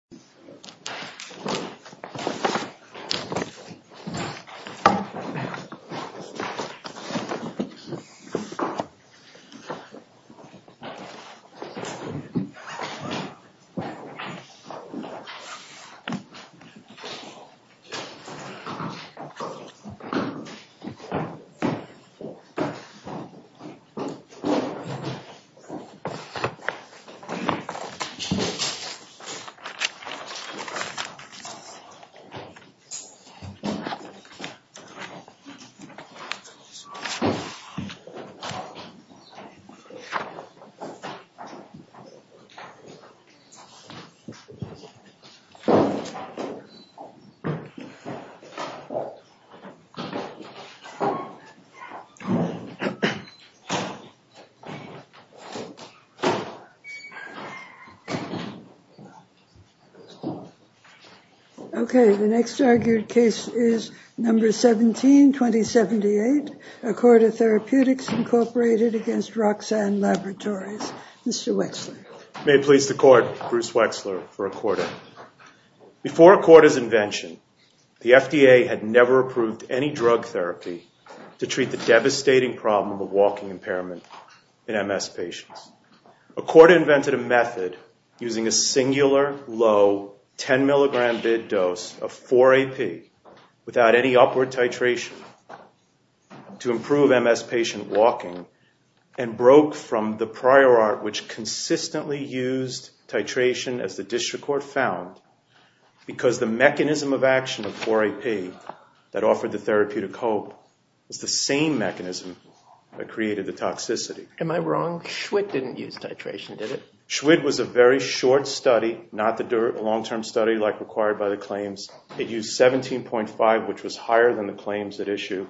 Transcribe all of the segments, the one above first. This is a recording of a meeting between the Roxane Laboratories, Inc. and the University of California, San Diego, California, on September 16, 2020. This is a recording of a meeting between the Roxane Laboratories, Inc. and the University of California, San Diego, California, on September 16, 2020. Okay, the next argued case is number 17, 2078, Accorda Therapeutics, Inc. v. Roxane Laboratories, Inc. Mr. Wexler. May it please the Court, Bruce Wexler for Accorda. Before Accorda's invention, the FDA had never approved any drug therapy to treat the devastating problem of walking impairment in MS patients. Accorda invented a method using a singular, low, 10-milligram-bid dose of 4-AP without any upward titration to improve MS patient walking and broke from the prior art which consistently used titration as the district court found because the mechanism of action of 4-AP that offered the therapeutic hope was the same mechanism that created the toxicity. Am I wrong? SCHWIDT didn't use titration, did it? SCHWIDT was a very short study, not the long-term study like required by the claims. It used 17.5, which was higher than the claims at issue,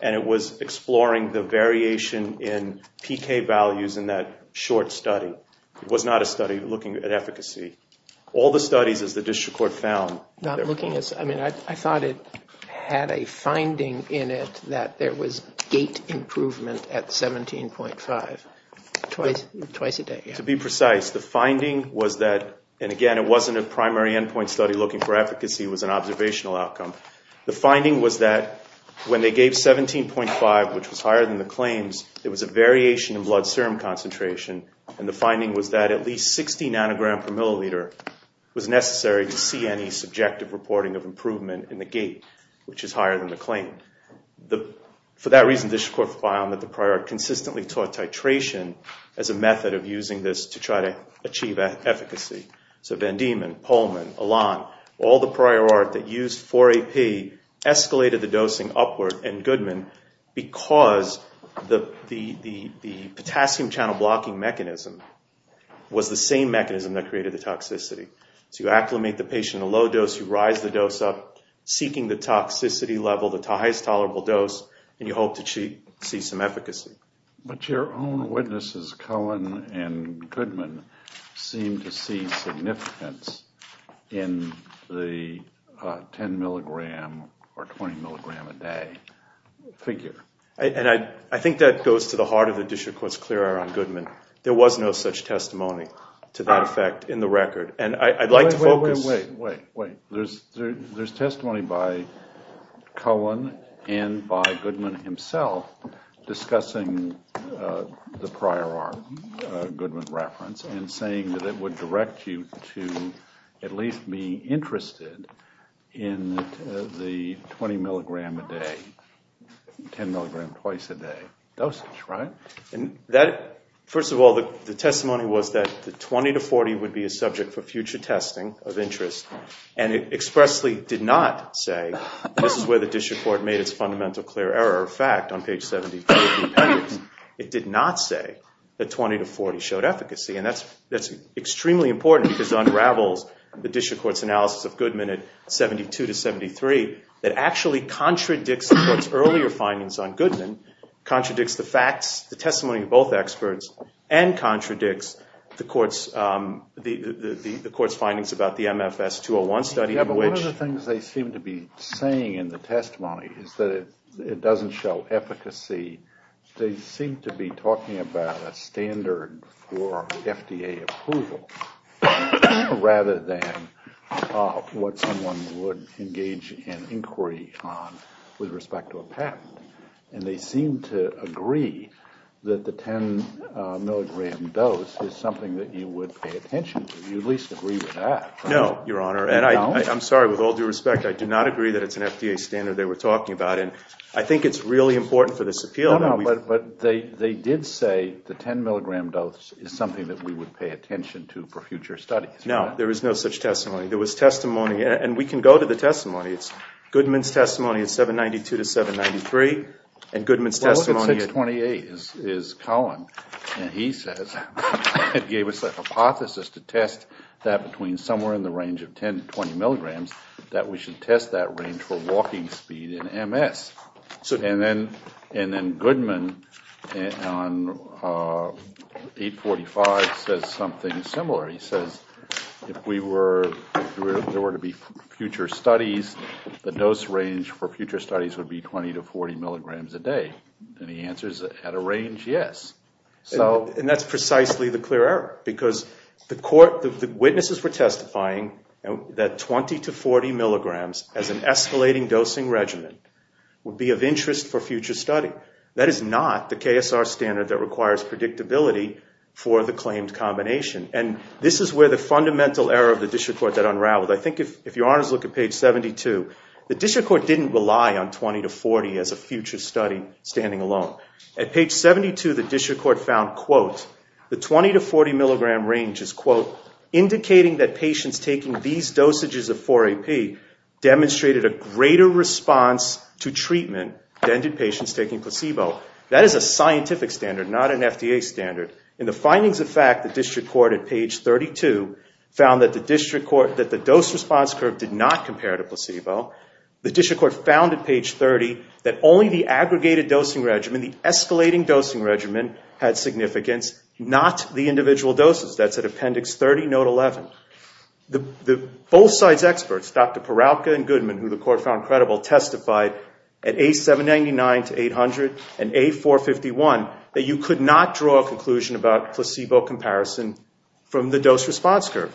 and it was exploring the variation in PK values in that short study. It was not a study looking at efficacy. All the studies, as the district court found— I thought it had a finding in it that there was gait improvement at 17.5 twice a day. To be precise, the finding was that, and again, it wasn't a primary endpoint study looking for efficacy. It was an observational outcome. The finding was that when they gave 17.5, which was higher than the claims, there was a variation in blood serum concentration, and the finding was that at least 60 nanograms per milliliter was necessary to see any subjective reporting of improvement in the gait, which is higher than the claim. For that reason, the district court found that the prior art consistently taught titration as a method of using this to try to achieve efficacy. So Van Diemen, Polman, Alon, all the prior art that used 4-AP escalated the dosing upward in Goodman because the potassium channel blocking mechanism was the same mechanism that created the toxicity. So you acclimate the patient in a low dose. You rise the dose up, seeking the toxicity level, the highest tolerable dose, and you hope to see some efficacy. But your own witnesses, Cohen and Goodman, seem to see significance in the 10 milligram or 20 milligram a day figure. And I think that goes to the heart of the district court's clear on Goodman. There was no such testimony to that effect in the record, and I'd like to focus – on the prior art, Goodman's reference, and saying that it would direct you to at least be interested in the 20 milligram a day, 10 milligram twice a day dosage, right? First of all, the testimony was that the 20 to 40 would be a subject for future testing of interest, and it expressly did not say that this is where the district court made its fundamental clear error of fact on page 70 of the appendix. It did not say that 20 to 40 showed efficacy, and that's extremely important because it unravels the district court's analysis of Goodman at 72 to 73 that actually contradicts the court's earlier findings on Goodman, contradicts the facts, the testimony of both experts, and contradicts the court's findings about the MFS 201 study in which – Yeah, but one of the things they seem to be saying in the testimony is that it doesn't show efficacy. They seem to be talking about a standard for FDA approval rather than what someone would engage in inquiry on with respect to a patent. And they seem to agree that the 10 milligram dose is something that you would pay attention to. Do you at least agree with that? No, Your Honor, and I'm sorry, with all due respect, I do not agree that it's an FDA standard they were talking about, and I think it's really important for this appeal. No, no, but they did say the 10 milligram dose is something that we would pay attention to for future studies. No, there is no such testimony. There was testimony, and we can go to the testimony. It's Goodman's testimony at 792 to 793, and Goodman's testimony at – Well, look at 628 is Colin, and he says it gave us a hypothesis to test that between somewhere in the range of 10 to 20 milligrams that we should test that range for walking speed in MS. And then Goodman on 845 says something similar. He says if there were to be future studies, the dose range for future studies would be 20 to 40 milligrams a day. And the answer is at a range, yes. And that's precisely the clear error because the witnesses were testifying that 20 to 40 milligrams as an escalating dosing regimen would be of interest for future study. That is not the KSR standard that requires predictability for the claimed combination, and this is where the fundamental error of the district court that unraveled. I think if your honors look at page 72, the district court didn't rely on 20 to 40 as a future study standing alone. At page 72, the district court found, quote, the 20 to 40 milligram range is, quote, indicating that patients taking these dosages of 4-AP demonstrated a greater response to treatment than did patients taking placebo. That is a scientific standard, not an FDA standard. In the findings of fact, the district court at page 32 found that the dose response curve did not compare to placebo. The district court found at page 30 that only the aggregated dosing regimen, the escalating dosing regimen, had significance, not the individual doses. That's at appendix 30, note 11. Both sides' experts, Dr. Peralta and Goodman, who the court found credible, testified at A799 to 800 and A451 that you could not draw a conclusion about placebo comparison from the dose response curve.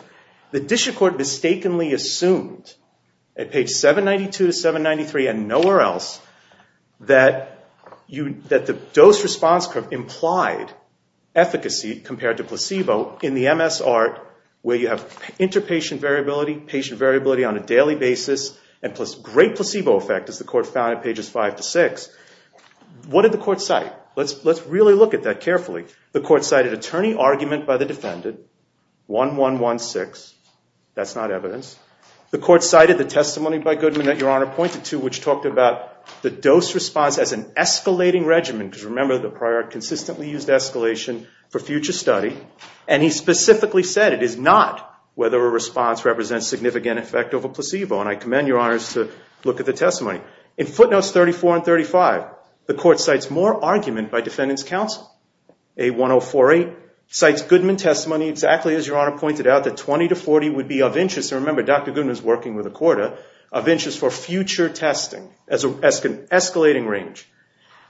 The district court mistakenly assumed, at page 792 to 793 and nowhere else, that the dose response curve implied efficacy compared to placebo in the MS art, where you have interpatient variability, patient variability on a daily basis, and great placebo effect, as the court found at pages 5 to 6. What did the court cite? Let's really look at that carefully. The court cited attorney argument by the defendant, 1116. That's not evidence. The court cited the testimony by Goodman that Your Honor pointed to, which talked about the dose response as an escalating regimen, because remember the prior consistently used escalation for future study, and he specifically said it is not whether a response represents significant effect over placebo, and I commend Your Honors to look at the testimony. In footnotes 34 and 35, the court cites more argument by defendant's counsel. A1048 cites Goodman testimony, exactly as Your Honor pointed out, that 20 to 40 would be of interest, and remember Dr. Goodman is working with a quarter, of interest for future testing as an escalating range.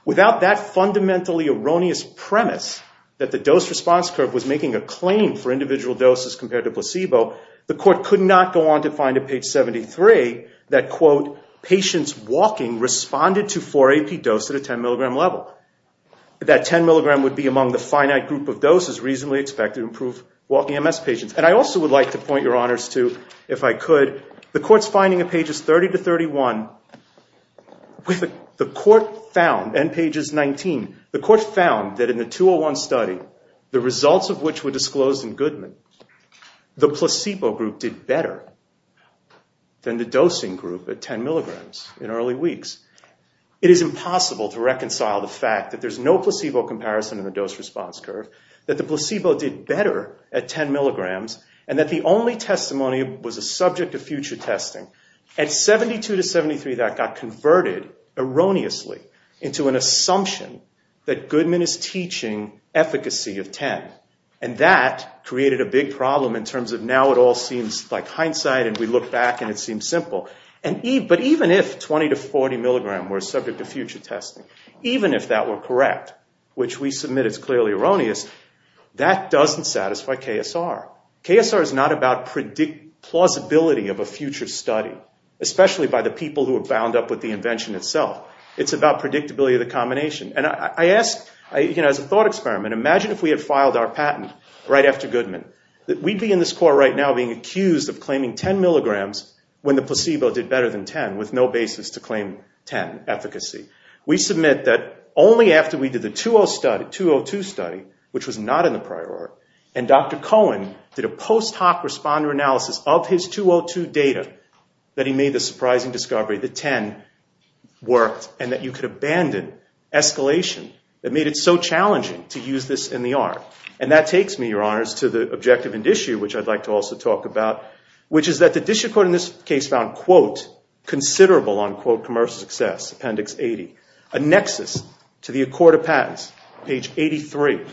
Without that fundamentally erroneous premise that the dose response curve was making a claim for individual doses compared to placebo, the court could not go on to find at page 73 that, quote, patients walking responded to 4-AP dose at a 10 milligram level. That 10 milligram would be among the finite group of doses reasonably expected to improve walking MS patients. And I also would like to point Your Honors to, if I could, the court's finding of pages 30 to 31, the court found, end pages 19, the court found that in the 201 study, the results of which were disclosed in Goodman, the placebo group did better than the dosing group at 10 milligrams in early weeks. It is impossible to reconcile the fact that there's no placebo comparison in the dose response curve, that the placebo did better at 10 milligrams, and that the only testimony was a subject of future testing. At 72 to 73, that got converted erroneously into an assumption that Goodman is teaching efficacy of 10, and that created a big problem in terms of now it all seems like hindsight and we look back and it seems simple. But even if 20 to 40 milligram were subject to future testing, even if that were correct, which we submit is clearly erroneous, that doesn't satisfy KSR. KSR is not about plausibility of a future study, especially by the people who are bound up with the invention itself. It's about predictability of the combination. As a thought experiment, imagine if we had filed our patent right after Goodman, that we'd be in this court right now being accused of claiming 10 milligrams when the placebo did better than 10, with no basis to claim 10 efficacy. We submit that only after we did the 202 study, which was not in the prior art, and Dr. Cohen did a post hoc responder analysis of his 202 data, that he made the surprising discovery that 10 worked and that you could abandon escalation that made it so challenging to use this in the art. And that takes me, your honors, to the objective and issue which I'd like to also talk about, which is that the district court in this case found, quote, considerable, unquote, commercial success, appendix 80. A nexus to the accord of patents, page 83.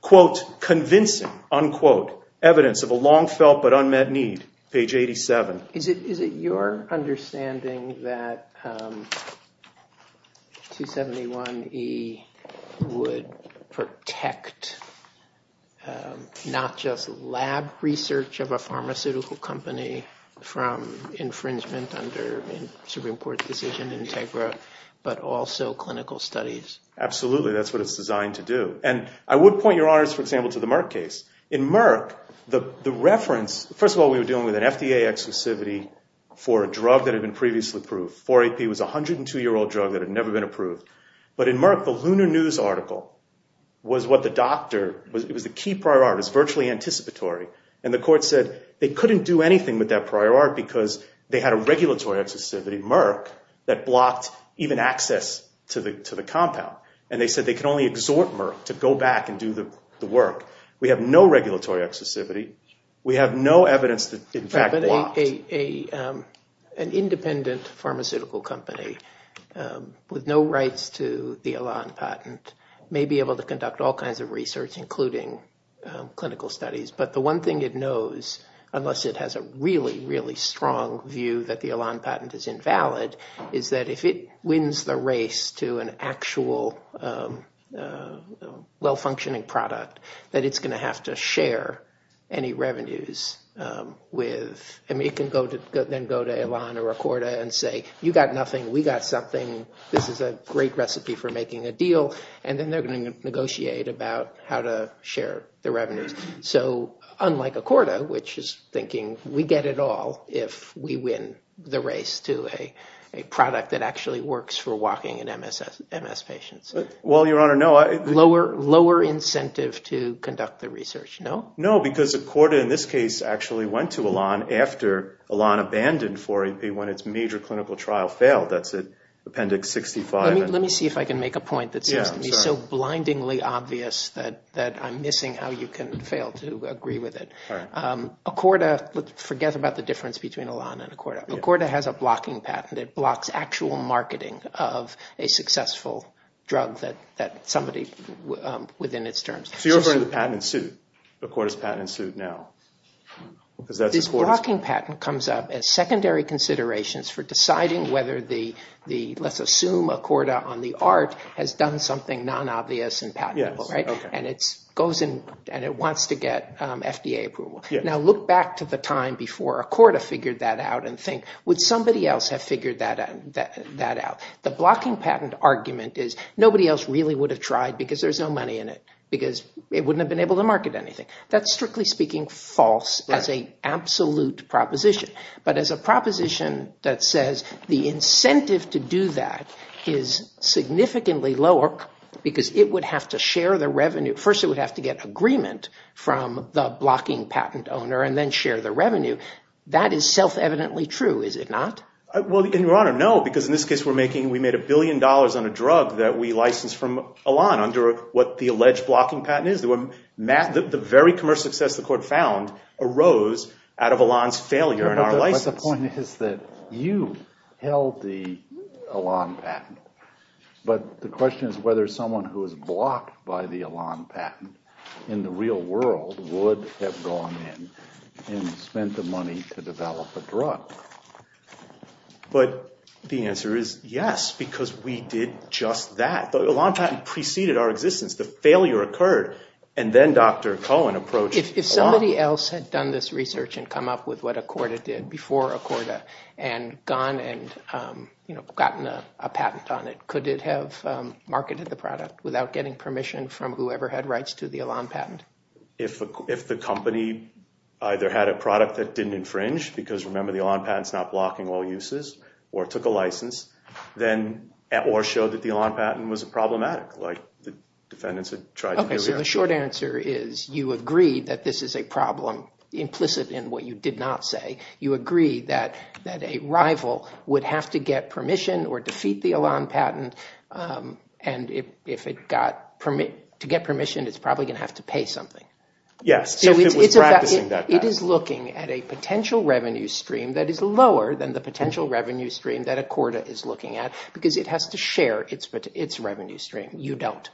Quote, convincing, unquote, evidence of a long felt but unmet need, page 87. Is it your understanding that 271E would protect not just lab research of a pharmaceutical company from infringement under Supreme Court decision integra, but also clinical studies? Absolutely, that's what it's designed to do. And I would point, your honors, for example, to the Merck case. In Merck, the reference, first of all, we were dealing with an FDA exclusivity for a drug that had been previously approved. 4-AP was a 102-year-old drug that had never been approved. But in Merck, the Lunar News article was what the doctor, it was the key prior art, it was virtually anticipatory. And the court said they couldn't do anything with that prior art because they had a regulatory exclusivity, Merck, that blocked even access to the compound. And they said they could only exhort Merck to go back and do the work. We have no regulatory exclusivity. We have no evidence that, in fact, they blocked. An independent pharmaceutical company with no rights to the Elan patent may be able to conduct all kinds of research, including clinical studies. But the one thing it knows, unless it has a really, really strong view that the Elan patent is invalid, is that if it wins the race to an actual well-functioning product, that it's going to have to share any revenues with, and it can then go to Elan or Accorda and say, you got nothing, we got something, this is a great recipe for making a deal, and then they're going to negotiate about how to share the revenues. So unlike Accorda, which is thinking, we get it all if we win the race to a product that actually works for walking and MS patients. Well, Your Honor, no. Lower incentive to conduct the research, no? No, because Accorda in this case actually went to Elan after Elan abandoned 4-AP when its major clinical trial failed. That's at Appendix 65. Let me see if I can make a point that seems to be so blindingly obvious that I'm missing how you can fail to agree with it. Accorda, forget about the difference between Elan and Accorda. Accorda has a blocking patent that blocks actual marketing of a successful drug that somebody, within its terms. So you're referring to the patent in suit, Accorda's patent in suit now? This blocking patent comes up as secondary considerations for deciding whether the, let's assume, Accorda on the art has done something non-obvious and patentable, right? And it wants to get FDA approval. Now look back to the time before Accorda figured that out and think, would somebody else have figured that out? The blocking patent argument is nobody else really would have tried because there's no money in it, because it wouldn't have been able to market anything. That's strictly speaking false as an absolute proposition. But as a proposition that says the incentive to do that is significantly lower because it would have to share the revenue. First it would have to get agreement from the blocking patent owner and then share the revenue. That is self-evidently true, is it not? Well, Your Honor, no, because in this case we're making, we made a billion dollars on a drug that we licensed from Elan under what the alleged blocking patent is. The very commercial success the court found arose out of Elan's failure in our license. But the point is that you held the Elan patent. But the question is whether someone who was blocked by the Elan patent in the real world would have gone in and spent the money to develop a drug. But the answer is yes, because we did just that. The Elan patent preceded our existence. The failure occurred and then Dr. Cohen approached Elan. If somebody else had done this research and come up with what Accorda did before Accorda and gone and gotten a patent on it, could it have marketed the product without getting permission from whoever had rights to the Elan patent? If the company either had a product that didn't infringe, because remember the Elan patent's not blocking all uses, or took a license, or showed that the Elan patent was problematic like the defendants had tried to do. Okay, so the short answer is you agree that this is a problem implicit in what you did not say. You agree that a rival would have to get permission or defeat the Elan patent and to get permission it's probably going to have to pay something. It is looking at a potential revenue stream that is lower than the potential revenue stream that Accorda is looking at because it has to share its revenue stream. You don't.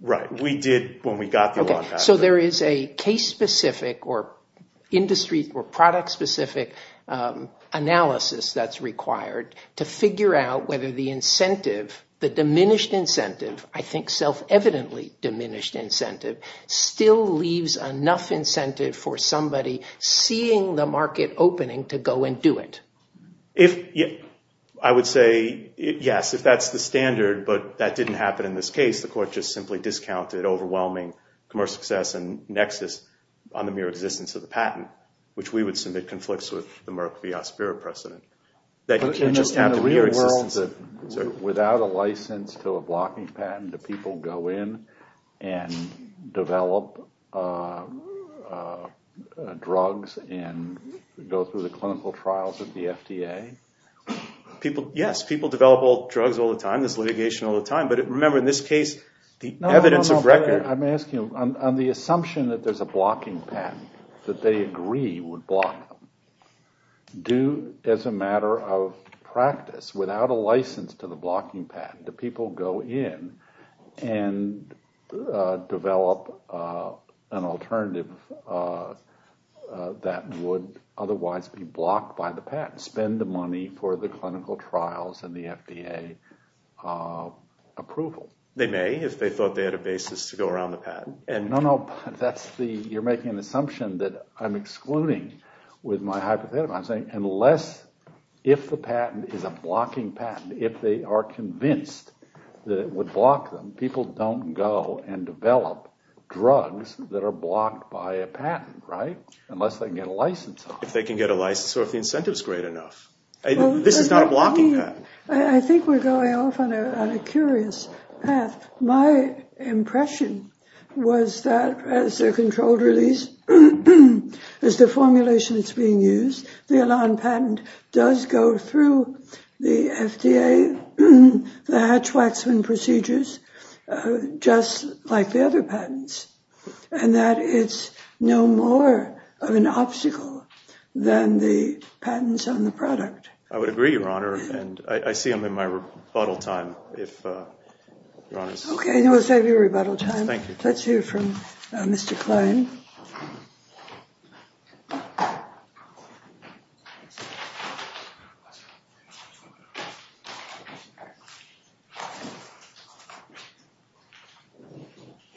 Right, we did when we got the Elan patent. Okay, so there is a case-specific or industry or product-specific analysis that's required to figure out whether the incentive, the diminished incentive, I think self-evidently diminished incentive, still leaves enough incentive for somebody seeing the market opening to go and do it. I would say yes, if that's the standard, but that didn't happen in this case. The court just simply discounted overwhelming commercial success and nexus on the mere existence of the patent, which we would submit conflicts with the Merck VR spirit precedent. In the real world, without a license to a blocking patent, do people go in and develop drugs and go through the clinical trials of the FDA? Yes, people develop drugs all the time, there's litigation all the time, but remember in this case, the evidence of record... I'm asking you, on the assumption that there's a blocking patent, that they agree would block them, do, as a matter of practice, without a license to the blocking patent, do people go in and develop an alternative that would otherwise be blocked by the patent, spend the money for the clinical trials and the FDA approval? They may, if they thought they had a basis to go around the patent. No, no, you're making an assumption that I'm excluding with my hypothetical. I'm saying unless, if the patent is a blocking patent, if they are convinced that it would block them, people don't go and develop drugs that are blocked by a patent, right? Unless they can get a license on it. If they can get a license or if the incentive is great enough. This is not a blocking patent. I think we're going off on a curious path. My impression was that as a controlled release, as the formulation that's being used, the Elan patent does go through the FDA, the Hatch-Waxman procedures, just like the other patents, and that it's no more of an obstacle than the patents on the product. I would agree, Your Honor, and I see I'm in my rebuttal time. Okay, let's have your rebuttal time. Let's hear from Mr. Klein.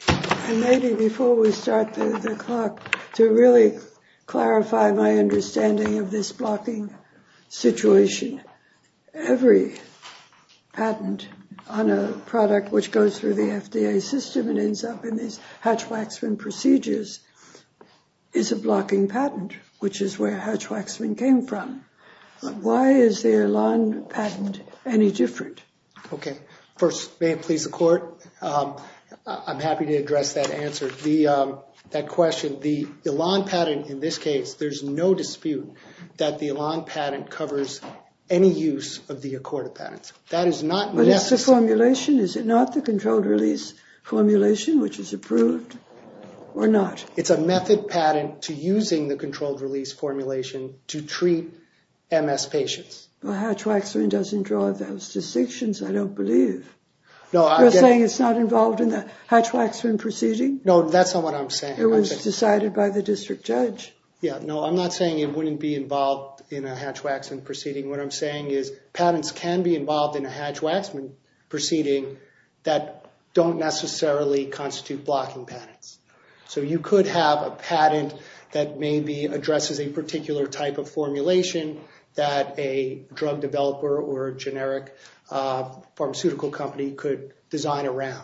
And maybe before we start the clock, to really clarify my understanding of this blocking situation, every patent on a product which goes through the FDA system and ends up in these Hatch-Waxman procedures is a blocking patent, which is where Hatch-Waxman came from. Why is the Elan patent any different? Okay, first, may it please the Court, I'm happy to address that answer. That question, the Elan patent in this case, there's no dispute that the Elan patent covers any use of the Accorda patent. But is the formulation, is it not the controlled release formulation, which is approved, or not? It's a method patent to using the controlled release formulation to treat MS patients. Well, Hatch-Waxman doesn't draw those distinctions, I don't believe. You're saying it's not involved in the Hatch-Waxman proceeding? No, that's not what I'm saying. It was decided by the district judge. Yeah, no, I'm not saying it wouldn't be involved in a Hatch-Waxman proceeding. What I'm saying is patents can be involved in a Hatch-Waxman proceeding that don't necessarily constitute blocking patents. So you could have a patent that maybe addresses a particular type of formulation that a drug developer or a generic pharmaceutical company could design around.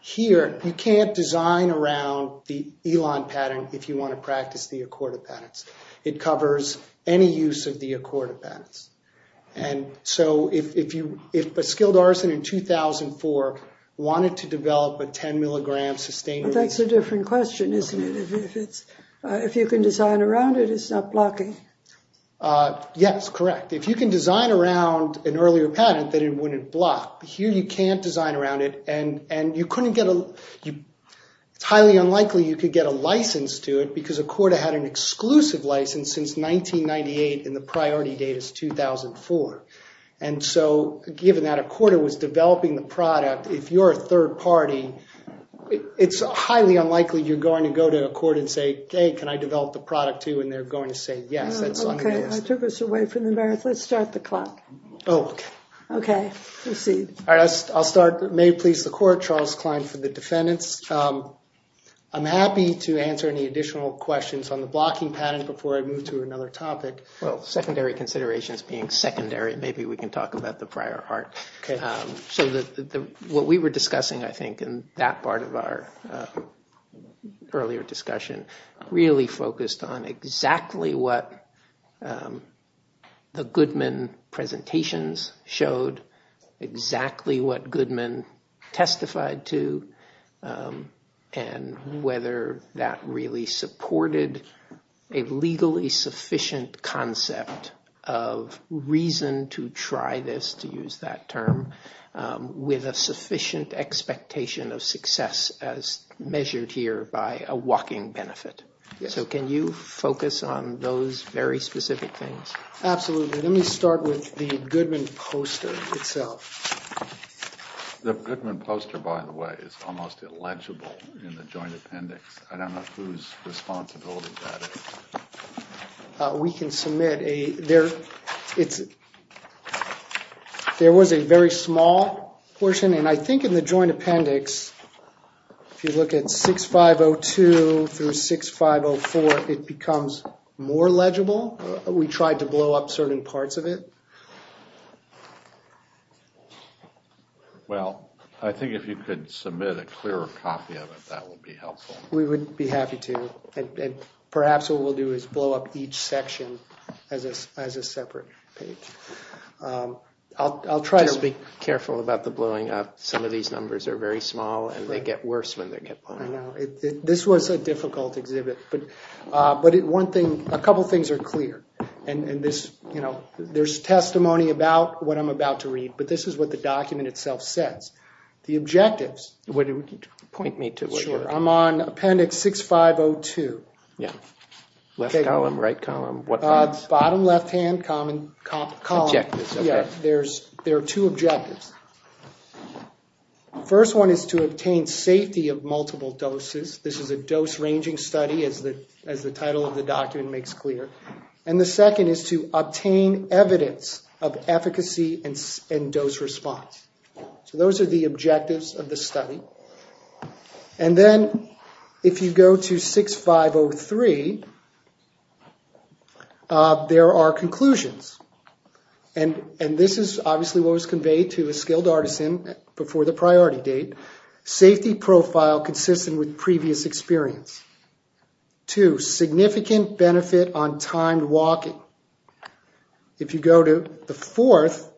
Here, you can't design around the Elan patent if you want to practice the Accorda patents. It covers any use of the Accorda patents. And so if a skilled artisan in 2004 wanted to develop a 10-milligram sustainable— Well, that's a different question, isn't it? If you can design around it, it's not blocking. Yes, correct. If you can design around an earlier patent, then it wouldn't block. Here, you can't design around it, and you couldn't get a— since 1998 and the priority date is 2004. And so given that Accorda was developing the product, if you're a third party, it's highly unlikely you're going to go to Accorda and say, hey, can I develop the product, too, and they're going to say yes. Okay, I took us away from the merits. Let's start the clock. Oh, okay. Okay, proceed. All right, I'll start. May it please the Court. Charles Klein for the defendants. I'm happy to answer any additional questions on the blocking patent before I move to another topic. Well, secondary considerations being secondary, maybe we can talk about the prior art. Okay. So what we were discussing, I think, in that part of our earlier discussion, really focused on exactly what the Goodman presentations showed, exactly what Goodman testified to, and whether that really supported a legally sufficient concept of reason to try this, to use that term, with a sufficient expectation of success as measured here by a walking benefit. So can you focus on those very specific things? Absolutely. Let me start with the Goodman poster itself. The Goodman poster, by the way, is almost illegible in the joint appendix. I don't know whose responsibility that is. We can submit a ‑‑ there was a very small portion, and I think in the joint appendix, if you look at 6502 through 6504, it becomes more legible. We tried to blow up certain parts of it. Well, I think if you could submit a clearer copy of it, that would be helpful. We would be happy to. And perhaps what we'll do is blow up each section as a separate page. Just be careful about the blowing up. Some of these numbers are very small, and they get worse when they get blown up. I know. This was a difficult exhibit. But a couple of things are clear. There's testimony about what I'm about to read, but this is what the document itself says. The objectives, I'm on appendix 6502. Left column, right column. Bottom left‑hand column. There are two objectives. The first one is to obtain safety of multiple doses. This is a dose ranging study, as the title of the document makes clear. And the second is to obtain evidence of efficacy and dose response. So those are the objectives of the study. And then if you go to 6503, there are conclusions. And this is obviously what was conveyed to a skilled artisan before the priority date. Safety profile consistent with previous experience. Two, significant benefit on timed walking. If you go to the fourth,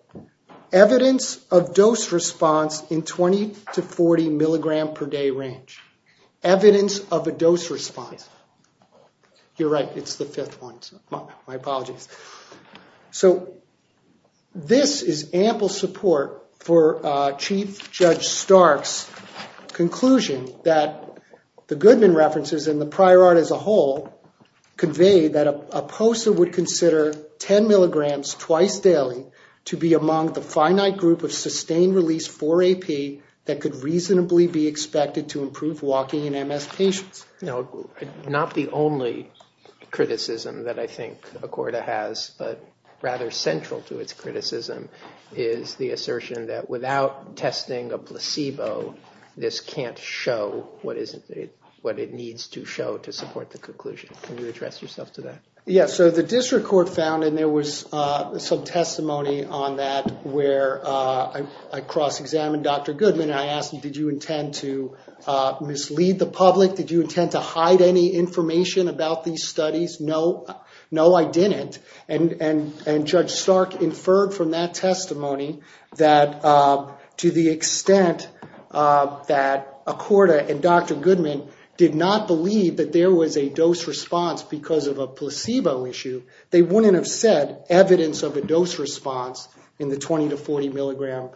evidence of dose response in 20 to 40 milligram per day range. Evidence of a dose response. You're right, it's the fifth one. My apologies. So this is ample support for Chief Judge Stark's conclusion that the Goodman references and the prior art as a whole convey that a POSA would consider 10 milligrams twice daily to be among the finite group of sustained release 4AP that could reasonably be expected to improve walking in MS patients. Not the only criticism that I think ACORDA has, but rather central to its criticism, is the assertion that without testing a placebo, this can't show what it needs to show to support the conclusion. Can you address yourself to that? Yeah, so the district court found, and there was some testimony on that, where I cross-examined Dr. Goodman and I asked him, did you intend to mislead the public? Did you intend to hide any information about these studies? No, I didn't. And Judge Stark inferred from that testimony that to the extent that ACORDA and Dr. Goodman did not believe that there was a dose response because of a placebo issue, they wouldn't have said evidence of a dose response in the 20 to 40 milligram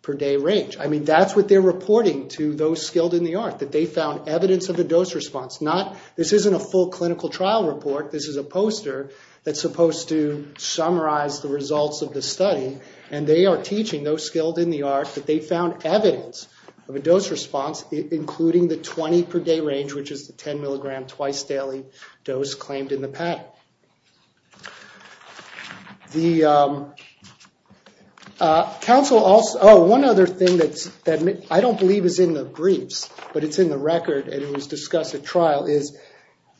per day range. I mean, that's what they're reporting to those skilled in the art, that they found evidence of a dose response. This isn't a full clinical trial report. This is a poster that's supposed to summarize the results of the study, and they are teaching those skilled in the art that they found evidence of a dose response, including the 20 per day range, which is the 10 milligram twice daily dose claimed in the patent. Oh, one other thing that I don't believe is in the briefs, but it's in the record, and it was discussed at trial, is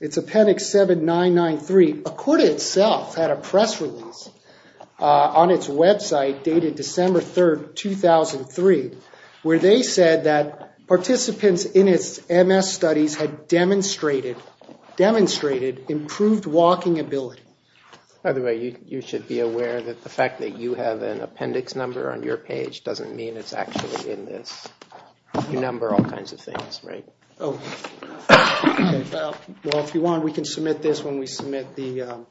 it's appendix 7993. ACORDA itself had a press release on its website dated December 3rd, 2003, where they said that participants in its MS studies had demonstrated improved walking ability. By the way, you should be aware that the fact that you have an appendix number on your page doesn't mean it's actually in this. You number all kinds of things, right? Oh, well, if you want, we can submit this when we submit the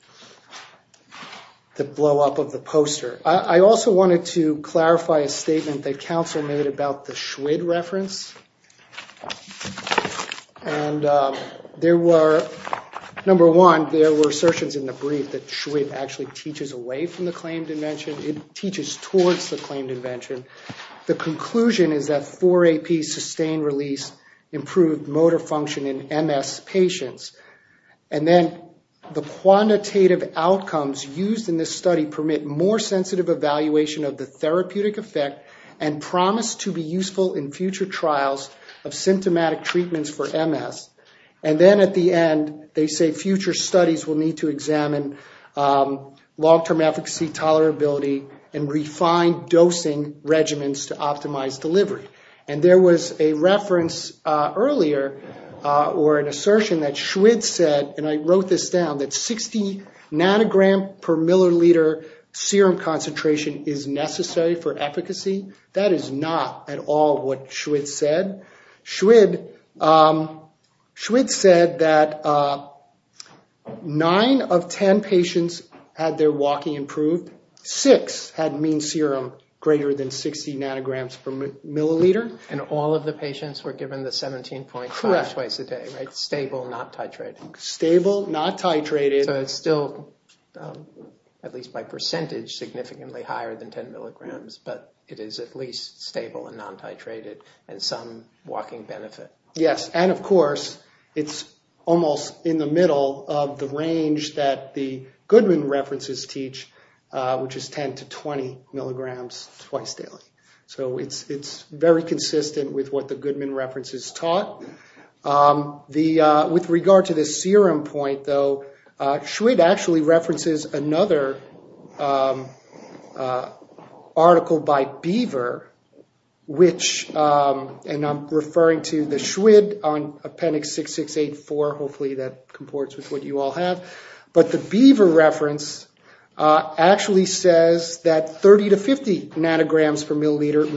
blowup of the poster. I also wanted to clarify a statement that counsel made about the Schwid reference. And there were, number one, there were assertions in the brief that Schwid actually teaches away from the claimed invention. It teaches towards the claimed invention. The conclusion is that 4-AP sustained release improved motor function in MS patients. And then the quantitative outcomes used in this study permit more sensitive evaluation of the symptomatic treatments for MS. And then at the end, they say future studies will need to examine long-term efficacy, tolerability, and refined dosing regimens to optimize delivery. And there was a reference earlier or an assertion that Schwid said, and I wrote this down, that 60 nanogram per milliliter serum concentration is necessary for efficacy. That is not at all what Schwid said. Schwid said that 9 of 10 patients had their walking improved. Six had mean serum greater than 60 nanograms per milliliter. And all of the patients were given the 17.5 twice a day, right? Correct. Stable, not titrated. Stable, not titrated. So it's still, at least by percentage, significantly higher than 10 milligrams. But it is at least stable and non-titrated and some walking benefit. Yes. And of course, it's almost in the middle of the range that the Goodman references teach, which is 10 to 20 milligrams twice daily. So it's very consistent with what the Goodman references taught. With regard to the serum point, though, Schwid actually references another article by Beaver, which, and I'm referring to the Schwid on Appendix 6684, hopefully that comports with what you all have. But the Beaver reference actually says that 30 to 50 nanograms per milliliter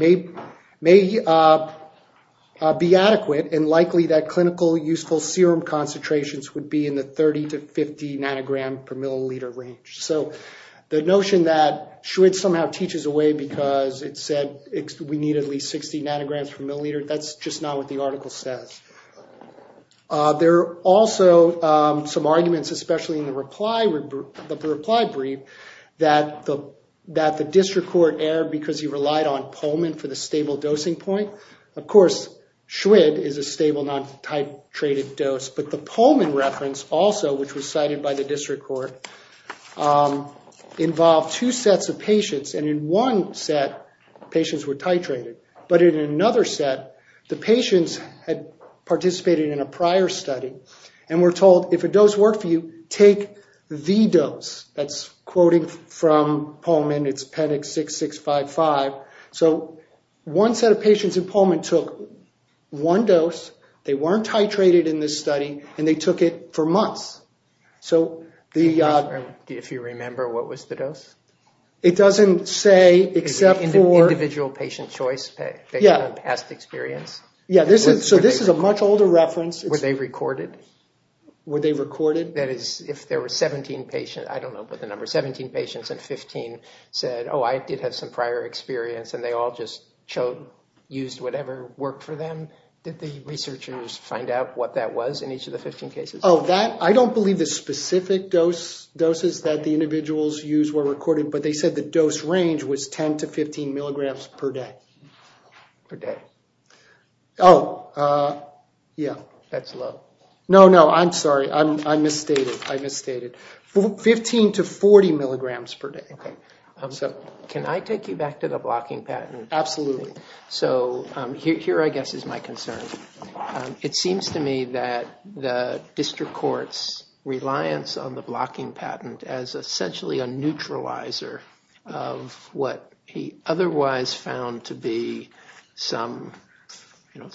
may be adequate and likely that clinical useful serum concentrations would be in the 30 to 50 nanogram per milliliter range. So the notion that Schwid somehow teaches away because it said we need at least 60 nanograms per milliliter, that's just not what the article says. There are also some arguments, especially in the reply brief, that the district court erred because he relied on Pullman for the stable dosing point. Of course, Schwid is a stable non-titrated dose, but the Pullman reference also, which was cited by the district court, involved two sets of patients. And in one set, patients were titrated. But in another set, the patients had participated in a prior study and were told if a dose worked for you, take the dose. That's quoting from Pullman. It's Appendix 6655. So one set of patients in Pullman took one dose. They weren't titrated in this study, and they took it for months. If you remember, what was the dose? It doesn't say except for— Individual patient choice based on past experience? Yeah, so this is a much older reference. Were they recorded? Were they recorded? That is, if there were 17 patients, I don't know the number, 17 patients and 15 said, oh, I did have some prior experience, and they all just used whatever worked for them. Did the researchers find out what that was in each of the 15 cases? Oh, I don't believe the specific doses that the individuals used were recorded, but they said the dose range was 10 to 15 milligrams per day. Per day. Oh, yeah. That's low. No, no, I'm sorry. I misstated. I misstated. 15 to 40 milligrams per day. Okay, so can I take you back to the blocking patent? Absolutely. So here, I guess, is my concern. It seems to me that the district court's reliance on the blocking patent as essentially a neutralizer of what he otherwise found to be some, you know,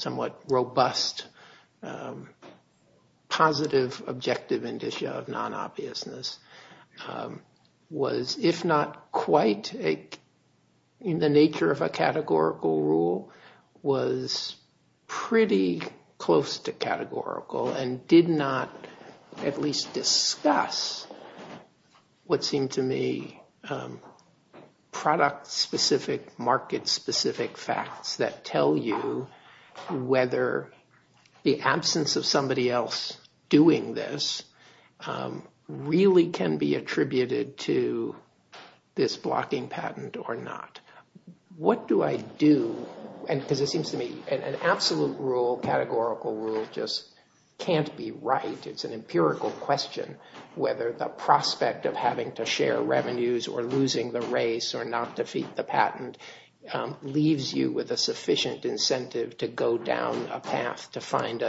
not quite in the nature of a categorical rule was pretty close to categorical and did not at least discuss what seemed to me product-specific, market-specific facts that tell you whether the absence of somebody else doing this really can be attributed to this blocking patent or not. What do I do? Because it seems to me an absolute rule, categorical rule, just can't be right. It's an empirical question whether the prospect of having to share revenues or losing the race or not defeat the patent leaves you with a sufficient incentive to go down a path to find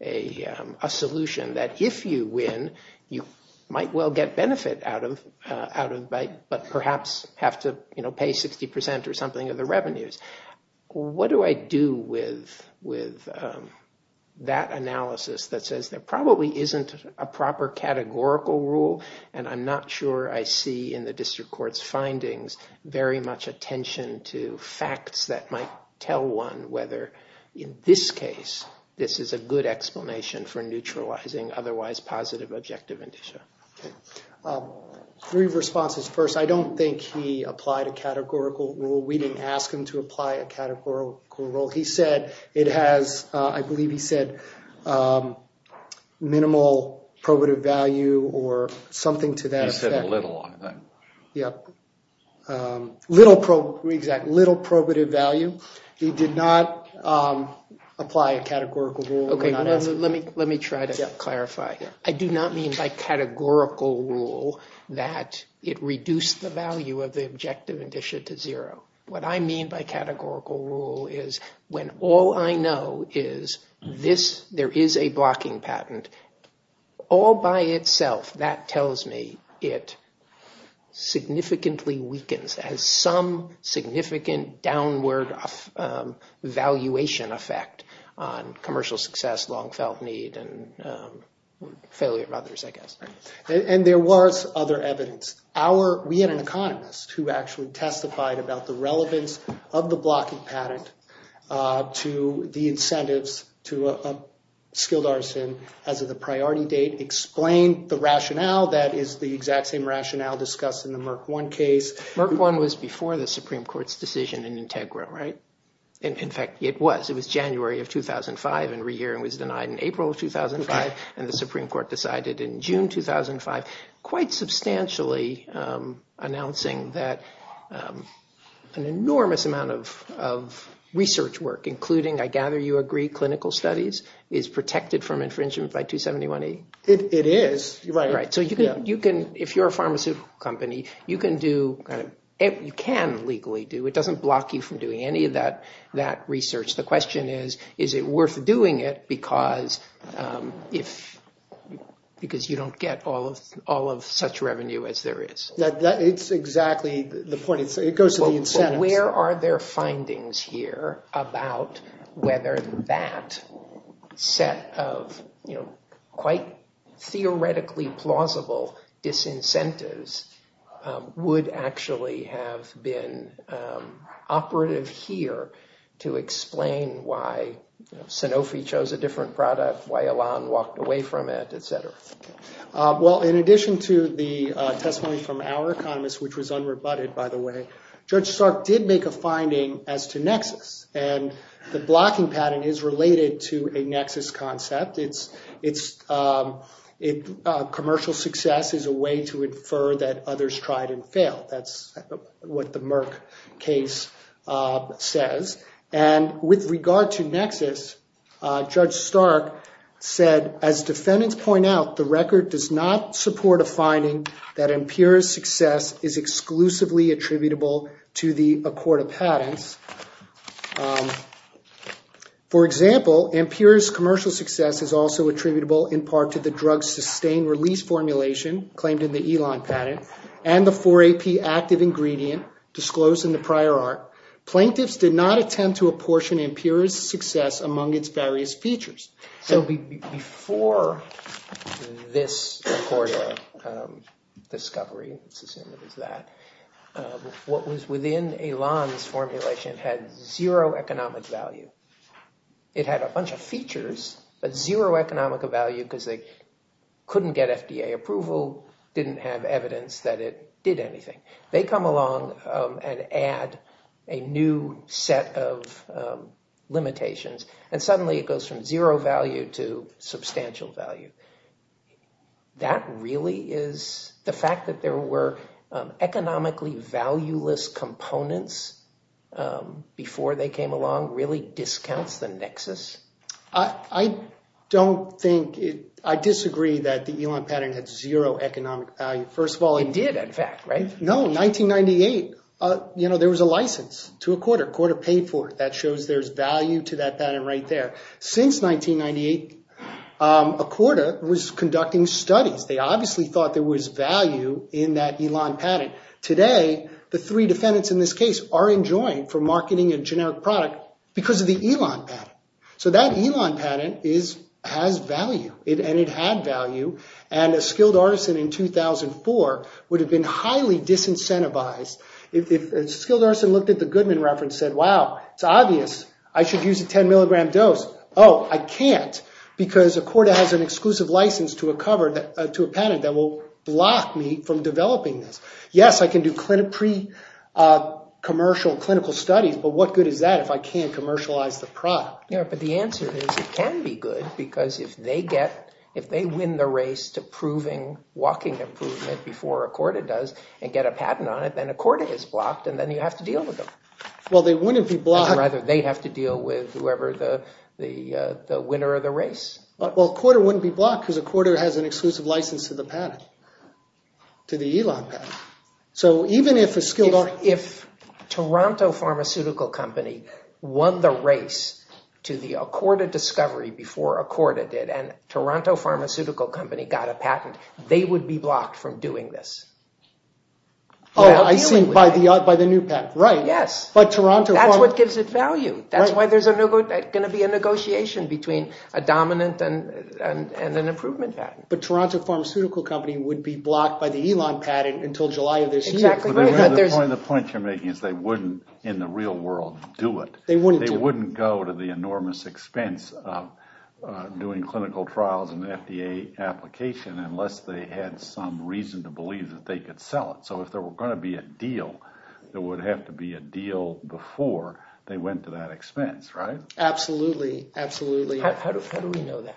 a solution that if you win, you might well get benefit out of but perhaps have to, you know, pay 60% or something of the revenues. What do I do with that analysis that says there probably isn't a proper categorical rule and I'm not sure I see in the district court's findings very much attention to facts that might tell one whether in this case this is a good explanation for neutralizing otherwise positive objective indicia. Three responses. First, I don't think he applied a categorical rule. We didn't ask him to apply a categorical rule. He said it has, I believe he said, minimal probative value or something to that effect. He said little on that. Yep. Little probative value. He did not apply a categorical rule. Let me try to clarify. I do not mean by categorical rule that it reduced the value of the objective indicia to zero. What I mean by categorical rule is when all I know is there is a blocking patent, all by itself that tells me it significantly weakens has some significant downward valuation effect on commercial success, long-felt need, and failure of others, I guess. And there was other evidence. We had an economist who actually testified about the relevance of the blocking patent to the incentives to a skilled artisan as of the priority date, explained the rationale that is the exact same rationale discussed in the Merck One case. Merck One was before the Supreme Court's decision in Integra, right? In fact, it was. It was January of 2005, and re-hearing was denied in April of 2005, and the Supreme Court decided in June 2005, quite substantially announcing that an enormous amount of research work, including, I gather you agree, clinical studies, is protected from infringement by 271A? It is. Right. So if you're a pharmaceutical company, you can legally do it. It doesn't block you from doing any of that research. The question is, is it worth doing it because you don't get all of such revenue as there is? It's exactly the point. It goes to the incentives. Where are their findings here about whether that set of quite theoretically plausible disincentives would actually have been operative here to explain why Sanofi chose a different product, why Elan walked away from it, et cetera? Well, in addition to the testimony from our economist, which was unrebutted, by the way, Judge Stark did make a finding as to nexus, and the blocking pattern is related to a nexus concept. Commercial success is a way to infer that others tried and failed. That's what the Merck case says. And with regard to nexus, Judge Stark said, As defendants point out, the record does not support a finding that Ampira's success is exclusively attributable to the Accorda patents. For example, Ampira's commercial success is also attributable in part to the drug sustained release formulation claimed in the Elan patent and the 4AP active ingredient disclosed in the prior art. Plaintiffs did not attempt to apportion Ampira's success among its various features. So before this Accorda discovery, let's assume it was that, what was within Elan's formulation had zero economic value. It had a bunch of features, but zero economic value because they couldn't get FDA approval, didn't have evidence that it did anything. They come along and add a new set of limitations, and suddenly it goes from zero value to substantial value. The fact that there were economically valueless components before they came along really discounts the nexus? I disagree that the Elan patent had zero economic value. It did, in fact, right? No, in 1998, there was a license to Accorda. Accorda paid for it. That shows there's value to that patent right there. Since 1998, Accorda was conducting studies. They obviously thought there was value in that Elan patent. Today, the three defendants in this case are enjoined for marketing a generic product because of the Elan patent. So that Elan patent has value, and it had value, and a skilled artisan in 2004 would have been highly disincentivized. If a skilled artisan looked at the Goodman reference and said, wow, it's obvious. I should use a 10-milligram dose. Oh, I can't because Accorda has an exclusive license to a patent that will block me from developing this. Yes, I can do pre-commercial clinical studies, but what good is that if I can't commercialize the product? Yeah, but the answer is it can be good because if they win the race to proving walking improvement before Accorda does and get a patent on it, then Accorda is blocked, and then you have to deal with them. Well, they wouldn't be blocked. Rather, they have to deal with whoever the winner of the race. Well, Accorda wouldn't be blocked because Accorda has an exclusive license to the patent, to the Elan patent. So even if a skilled artisan— If Toronto Pharmaceutical Company won the race to the Accorda discovery before Accorda did and Toronto Pharmaceutical Company got a patent, they would be blocked from doing this. Oh, I see, by the new patent, right. Yes. That's what gives it value. That's why there's going to be a negotiation between a dominant and an improvement patent. But Toronto Pharmaceutical Company would be blocked by the Elan patent until July of this year. Exactly right. The point you're making is they wouldn't, in the real world, do it. They wouldn't go to the enormous expense of doing clinical trials and FDA application unless they had some reason to believe that they could sell it. So if there were going to be a deal, there would have to be a deal before they went to that expense, right? Absolutely, absolutely. How do we know that?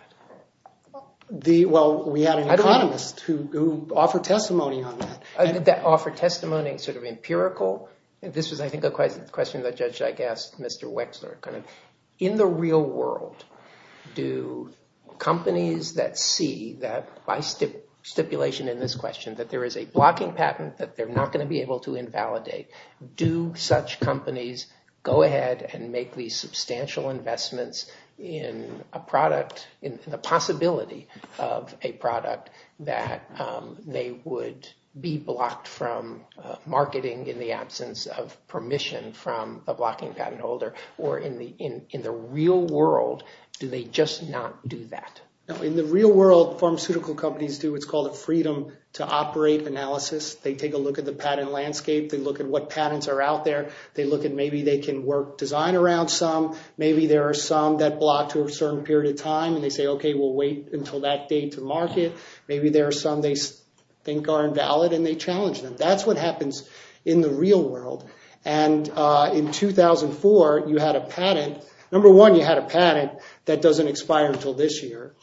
Well, we have an economist who offered testimony on that. Did that offer testimony sort of empirical? This was, I think, a question the judge asked Mr. Wexler. In the real world, do companies that see that by stipulation in this question that there is a blocking patent that they're not going to be able to invalidate, do such companies go ahead and make these substantial investments in a product, in the possibility of a product that they would be blocked from marketing in the absence of permission from a blocking patent holder? Or in the real world, do they just not do that? In the real world, pharmaceutical companies do what's called a freedom to operate analysis. They take a look at the patent landscape. They look at what patents are out there. They look at maybe they can work design around some. Maybe there are some that block to a certain period of time, and they say, okay, we'll wait until that date to market. Maybe there are some they think are invalid, and they challenge them. That's what happens in the real world. And in 2004, you had a patent. Number one, you had a patent that doesn't expire until this year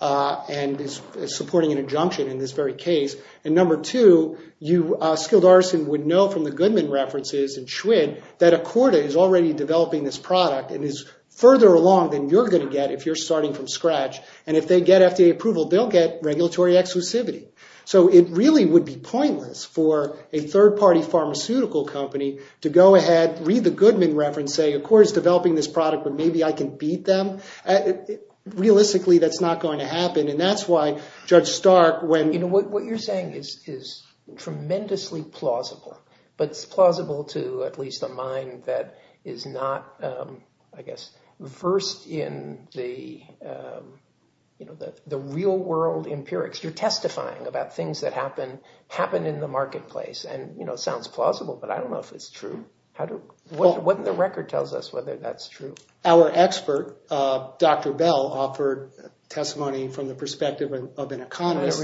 and is supporting an injunction in this very case. And number two, you, Skilled Artisan, would know from the Goodman references and Schwinn that Accorda is already developing this product and is further along than you're going to get if you're starting from scratch. And if they get FDA approval, they'll get regulatory exclusivity. So it really would be pointless for a third-party pharmaceutical company to go ahead, read the Goodman reference, say Accorda is developing this product, but maybe I can beat them. Realistically, that's not going to happen, and that's why Judge Stark, when— You know, what you're saying is tremendously plausible, but it's plausible to at least a mind that is not, I guess, versed in the real-world empirics. You're testifying about things that happen in the marketplace, and it sounds plausible, but I don't know if it's true. What in the record tells us whether that's true? Our expert, Dr. Bell, offered testimony from the perspective of an economist— I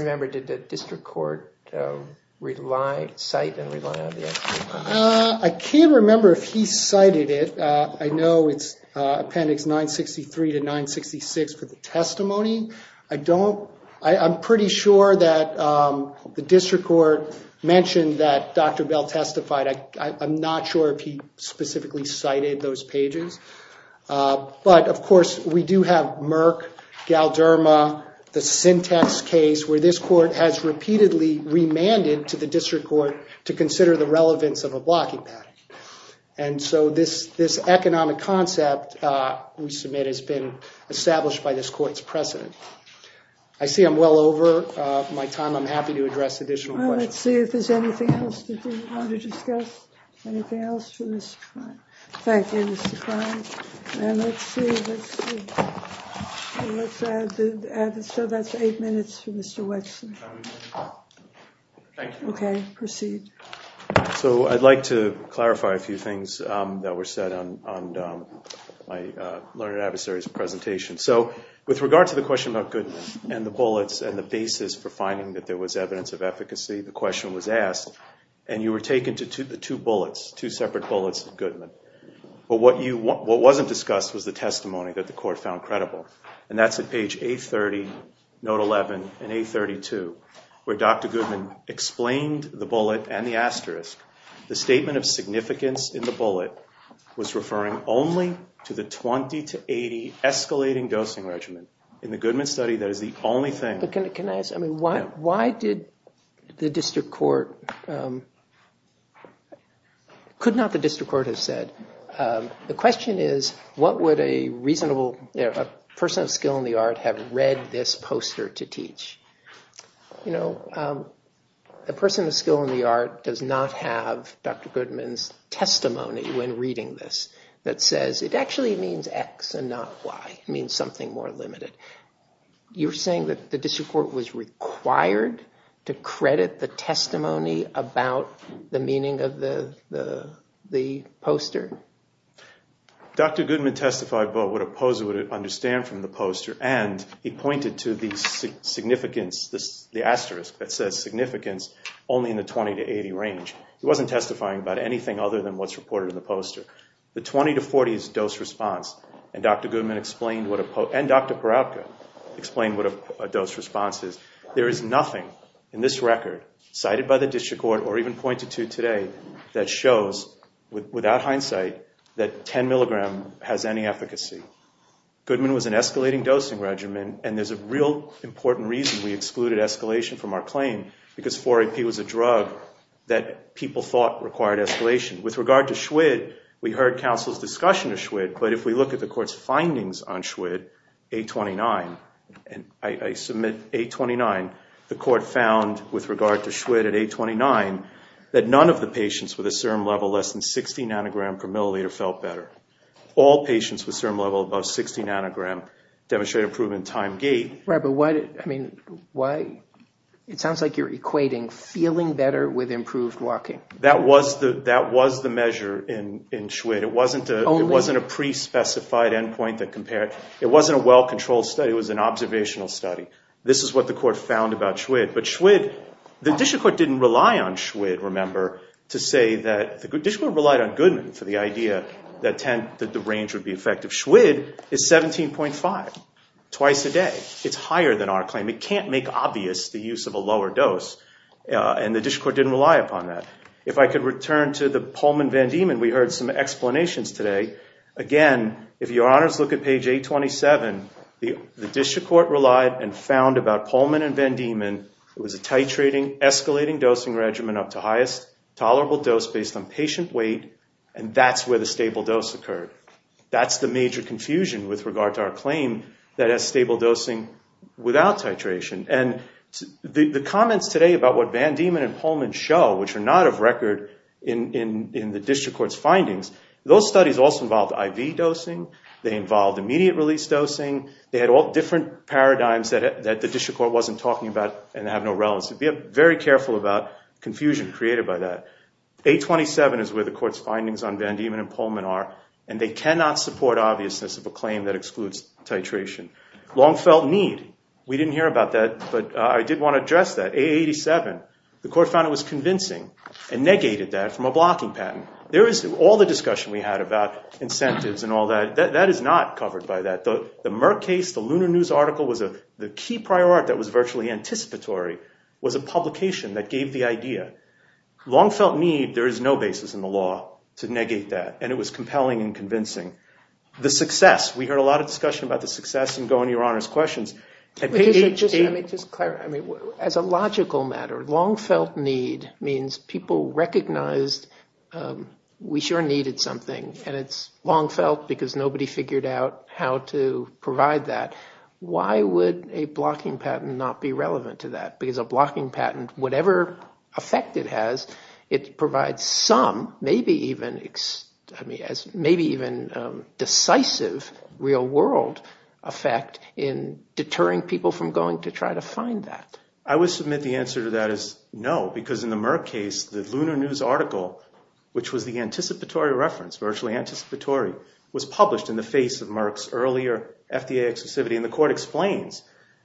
can't remember if he cited it. I know it's Appendix 963 to 966 for the testimony. I don't—I'm pretty sure that the district court mentioned that Dr. Bell testified. I'm not sure if he specifically cited those pages. But, of course, we do have Merck, Galderma, the Syntex case, where this court has repeatedly remanded to the district court to consider the relevance of a blocking pattern. And so this economic concept we submit has been established by this court's precedent. I see I'm well over my time. I'm happy to address additional questions. Well, let's see if there's anything else that you want to discuss. Anything else for Mr. Klein? Thank you, Mr. Klein. Let's see. Let's see. Let's add—so that's eight minutes for Mr. Wexler. Thank you. Okay, proceed. So I'd like to clarify a few things that were said on my learned adversary's presentation. So with regard to the question about Goodman and the bullets and the basis for finding that there was evidence of efficacy, the question was asked, and you were taken to the two bullets, two separate bullets of Goodman. But what wasn't discussed was the testimony that the court found credible, and that's at page 830, note 11, and 832, where Dr. Goodman explained the bullet and the asterisk. The statement of significance in the bullet was referring only to the 20 to 80 escalating dosing regimen. In the Goodman study, that is the only thing. Why did the district court—could not the district court have said, the question is what would a reasonable person of skill in the art have read this poster to teach? You know, a person of skill in the art does not have Dr. Goodman's testimony when reading this that says it actually means X and not Y. It means something more limited. You're saying that the district court was required to credit the testimony about the meaning of the poster? Dr. Goodman testified about what a poser would understand from the poster, and he pointed to the significance, the asterisk that says significance, only in the 20 to 80 range. He wasn't testifying about anything other than what's reported in the poster. The 20 to 40 is dose response, and Dr. Goodman explained what a—and Dr. Poratka explained what a dose response is. There is nothing in this record, cited by the district court or even pointed to today, that shows without hindsight that 10 milligram has any efficacy. Goodman was an escalating dosing regimen, and there's a real important reason we excluded escalation from our claim, because 4-AP was a drug that people thought required escalation. With regard to Schwitt, we heard counsel's discussion of Schwitt, but if we look at the court's findings on Schwitt, 829, and I submit 829, the court found, with regard to Schwitt at 829, that none of the patients with a CIRM level less than 60 nanogram per milliliter felt better. All patients with CIRM level above 60 nanogram demonstrated improvement in time gait. Right, but what—I mean, why—it sounds like you're equating feeling better with improved walking. That was the measure in Schwitt. It wasn't a pre-specified endpoint that compared—it wasn't a well-controlled study. It was an observational study. This is what the court found about Schwitt, but Schwitt—the district court didn't rely on Schwitt, remember, to say that—the district court relied on Goodman for the idea that the range would be effective. Schwitt is 17.5, twice a day. It's higher than our claim. It can't make obvious the use of a lower dose, and the district court didn't rely upon that. If I could return to the Pullman-Van Diemen, we heard some explanations today. Again, if your honors look at page 827, the district court relied and found about Pullman and Van Diemen. It was a titrating, escalating dosing regimen up to highest tolerable dose based on patient weight, and that's where the stable dose occurred. That's the major confusion with regard to our claim that has stable dosing without titration. And the comments today about what Van Diemen and Pullman show, which are not of record in the district court's findings, those studies also involved IV dosing. They involved immediate release dosing. They had all different paradigms that the district court wasn't talking about and have no relevance. Be very careful about confusion created by that. 827 is where the court's findings on Van Diemen and Pullman are, and they cannot support obviousness of a claim that excludes titration. Long felt need. We didn't hear about that, but I did want to address that. 887, the court found it was convincing and negated that from a blocking patent. There is all the discussion we had about incentives and all that. That is not covered by that. The Merck case, the Lunar News article was a key prior art that was virtually anticipatory, was a publication that gave the idea. Long felt need, there is no basis in the law to negate that, and it was compelling and convincing. The success. We heard a lot of discussion about the success in going to your Honor's questions. Let me just clarify. As a logical matter, long felt need means people recognized we sure needed something, and it's long felt because nobody figured out how to provide that. Why would a blocking patent not be relevant to that? Because a blocking patent, whatever effect it has, it provides some, maybe even decisive real-world effect in deterring people from going to try to find that. I would submit the answer to that is no, because in the Merck case, the Lunar News article, which was the anticipatory reference, virtually anticipatory, was published in the face of Merck's earlier FDA exclusivity, and the court explains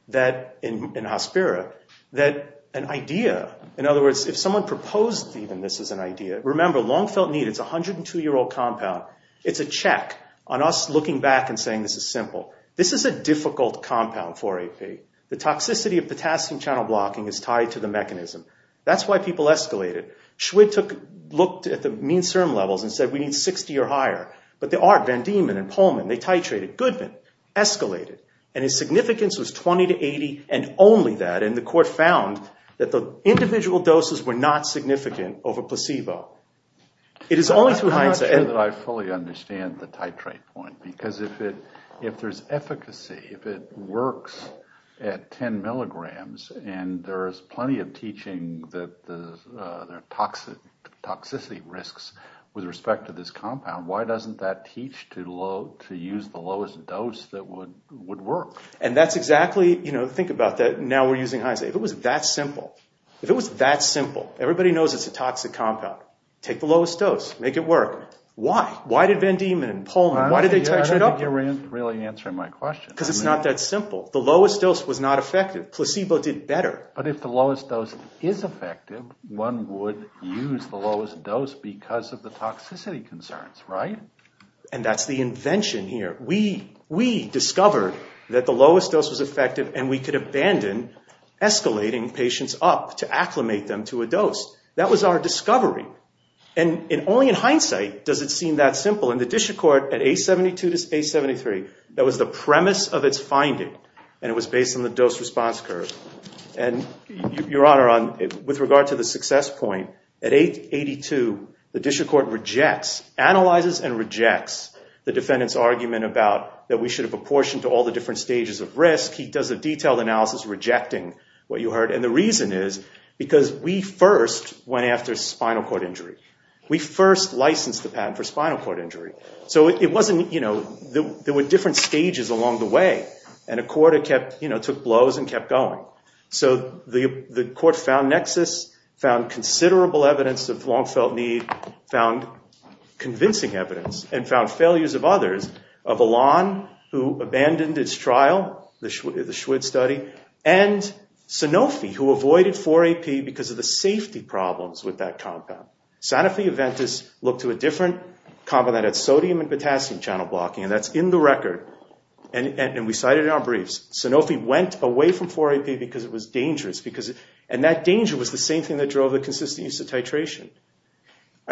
that in Hospira, that an idea, in other words, if someone proposed even this as an idea, remember, long felt need is a 102-year-old compound. It's a check on us looking back and saying this is simple. This is a difficult compound for AP. The toxicity of potassium channel blocking is tied to the mechanism. That's why people escalated. Schwid looked at the mean serum levels and said we need 60 or higher, but there are, Van Diemen and Pullman, they titrated, Goodman, escalated, and his significance was 20 to 80 and only that, and the court found that the individual doses were not significant over placebo. It is only through hindsight. I'm not sure that I fully understand the titrate point, because if there's efficacy, if it works at 10 milligrams and there is plenty of teaching that there are toxicity risks with respect to this compound, why doesn't that teach to use the lowest dose that would work? And that's exactly, you know, think about that. Now we're using hindsight. If it was that simple, if it was that simple, everybody knows it's a toxic compound. Take the lowest dose. Make it work. Why? Why did Van Diemen and Pullman, why did they titrate? I don't think you're really answering my question. Because it's not that simple. The lowest dose was not effective. Placebo did better. But if the lowest dose is effective, one would use the lowest dose because of the toxicity concerns, right? And that's the invention here. We discovered that the lowest dose was effective, and we could abandon escalating patients up to acclimate them to a dose. That was our discovery. And only in hindsight does it seem that simple. In the Disha court at A72 to A73, that was the premise of its finding, and it was based on the dose response curve. And, Your Honor, with regard to the success point, at A82, the Disha court rejects, analyzes and rejects the defendant's argument about that we should have apportioned to all the different stages of risk. He does a detailed analysis rejecting what you heard. And the reason is because we first went after spinal cord injury. We first licensed the patent for spinal cord injury. So it wasn't, you know, there were different stages along the way. And a court had kept, you know, took blows and kept going. So the court found nexus, found considerable evidence of long-felt need, found convincing evidence, and found failures of others. Of Elan, who abandoned its trial, the Schwitt study, and Sanofi, who avoided 4-AP because of the safety problems with that compound. Sanofi and Ventus looked to a different compound that had sodium and potassium channel blocking, and that's in the record. And we cited in our briefs, Sanofi went away from 4-AP because it was dangerous. And that danger was the same thing that drove the consistent use of titration.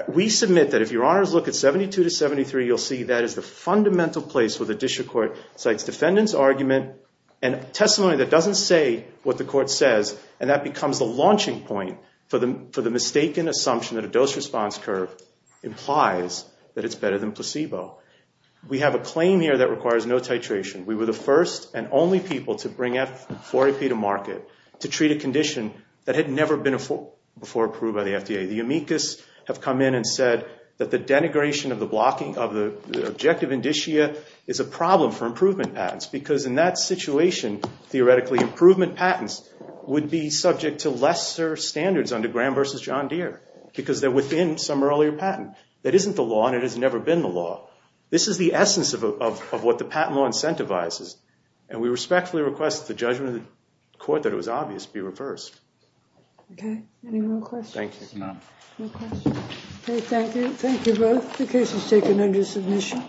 We submit that if Your Honors look at 72 to 73, you'll see that is the fundamental place where the Disha court cites defendant's argument and testimony that doesn't say what the court says. And that becomes the launching point for the mistaken assumption that a dose response curve implies that it's better than placebo. We have a claim here that requires no titration. We were the first and only people to bring 4-AP to market to treat a condition that had never been before approved by the FDA. The amicus have come in and said that the denigration of the objective indicia is a problem for improvement patents because in that situation, theoretically, improvement patents would be subject to lesser standards under Graham v. John Deere because they're within some earlier patent. That isn't the law and it has never been the law. This is the essence of what the patent law incentivizes. And we respectfully request that the judgment of the court that it was obvious be reversed. Okay. Any more questions? Thank you, Your Honor. No questions? Okay, thank you. Thank you both. The case is taken under submission.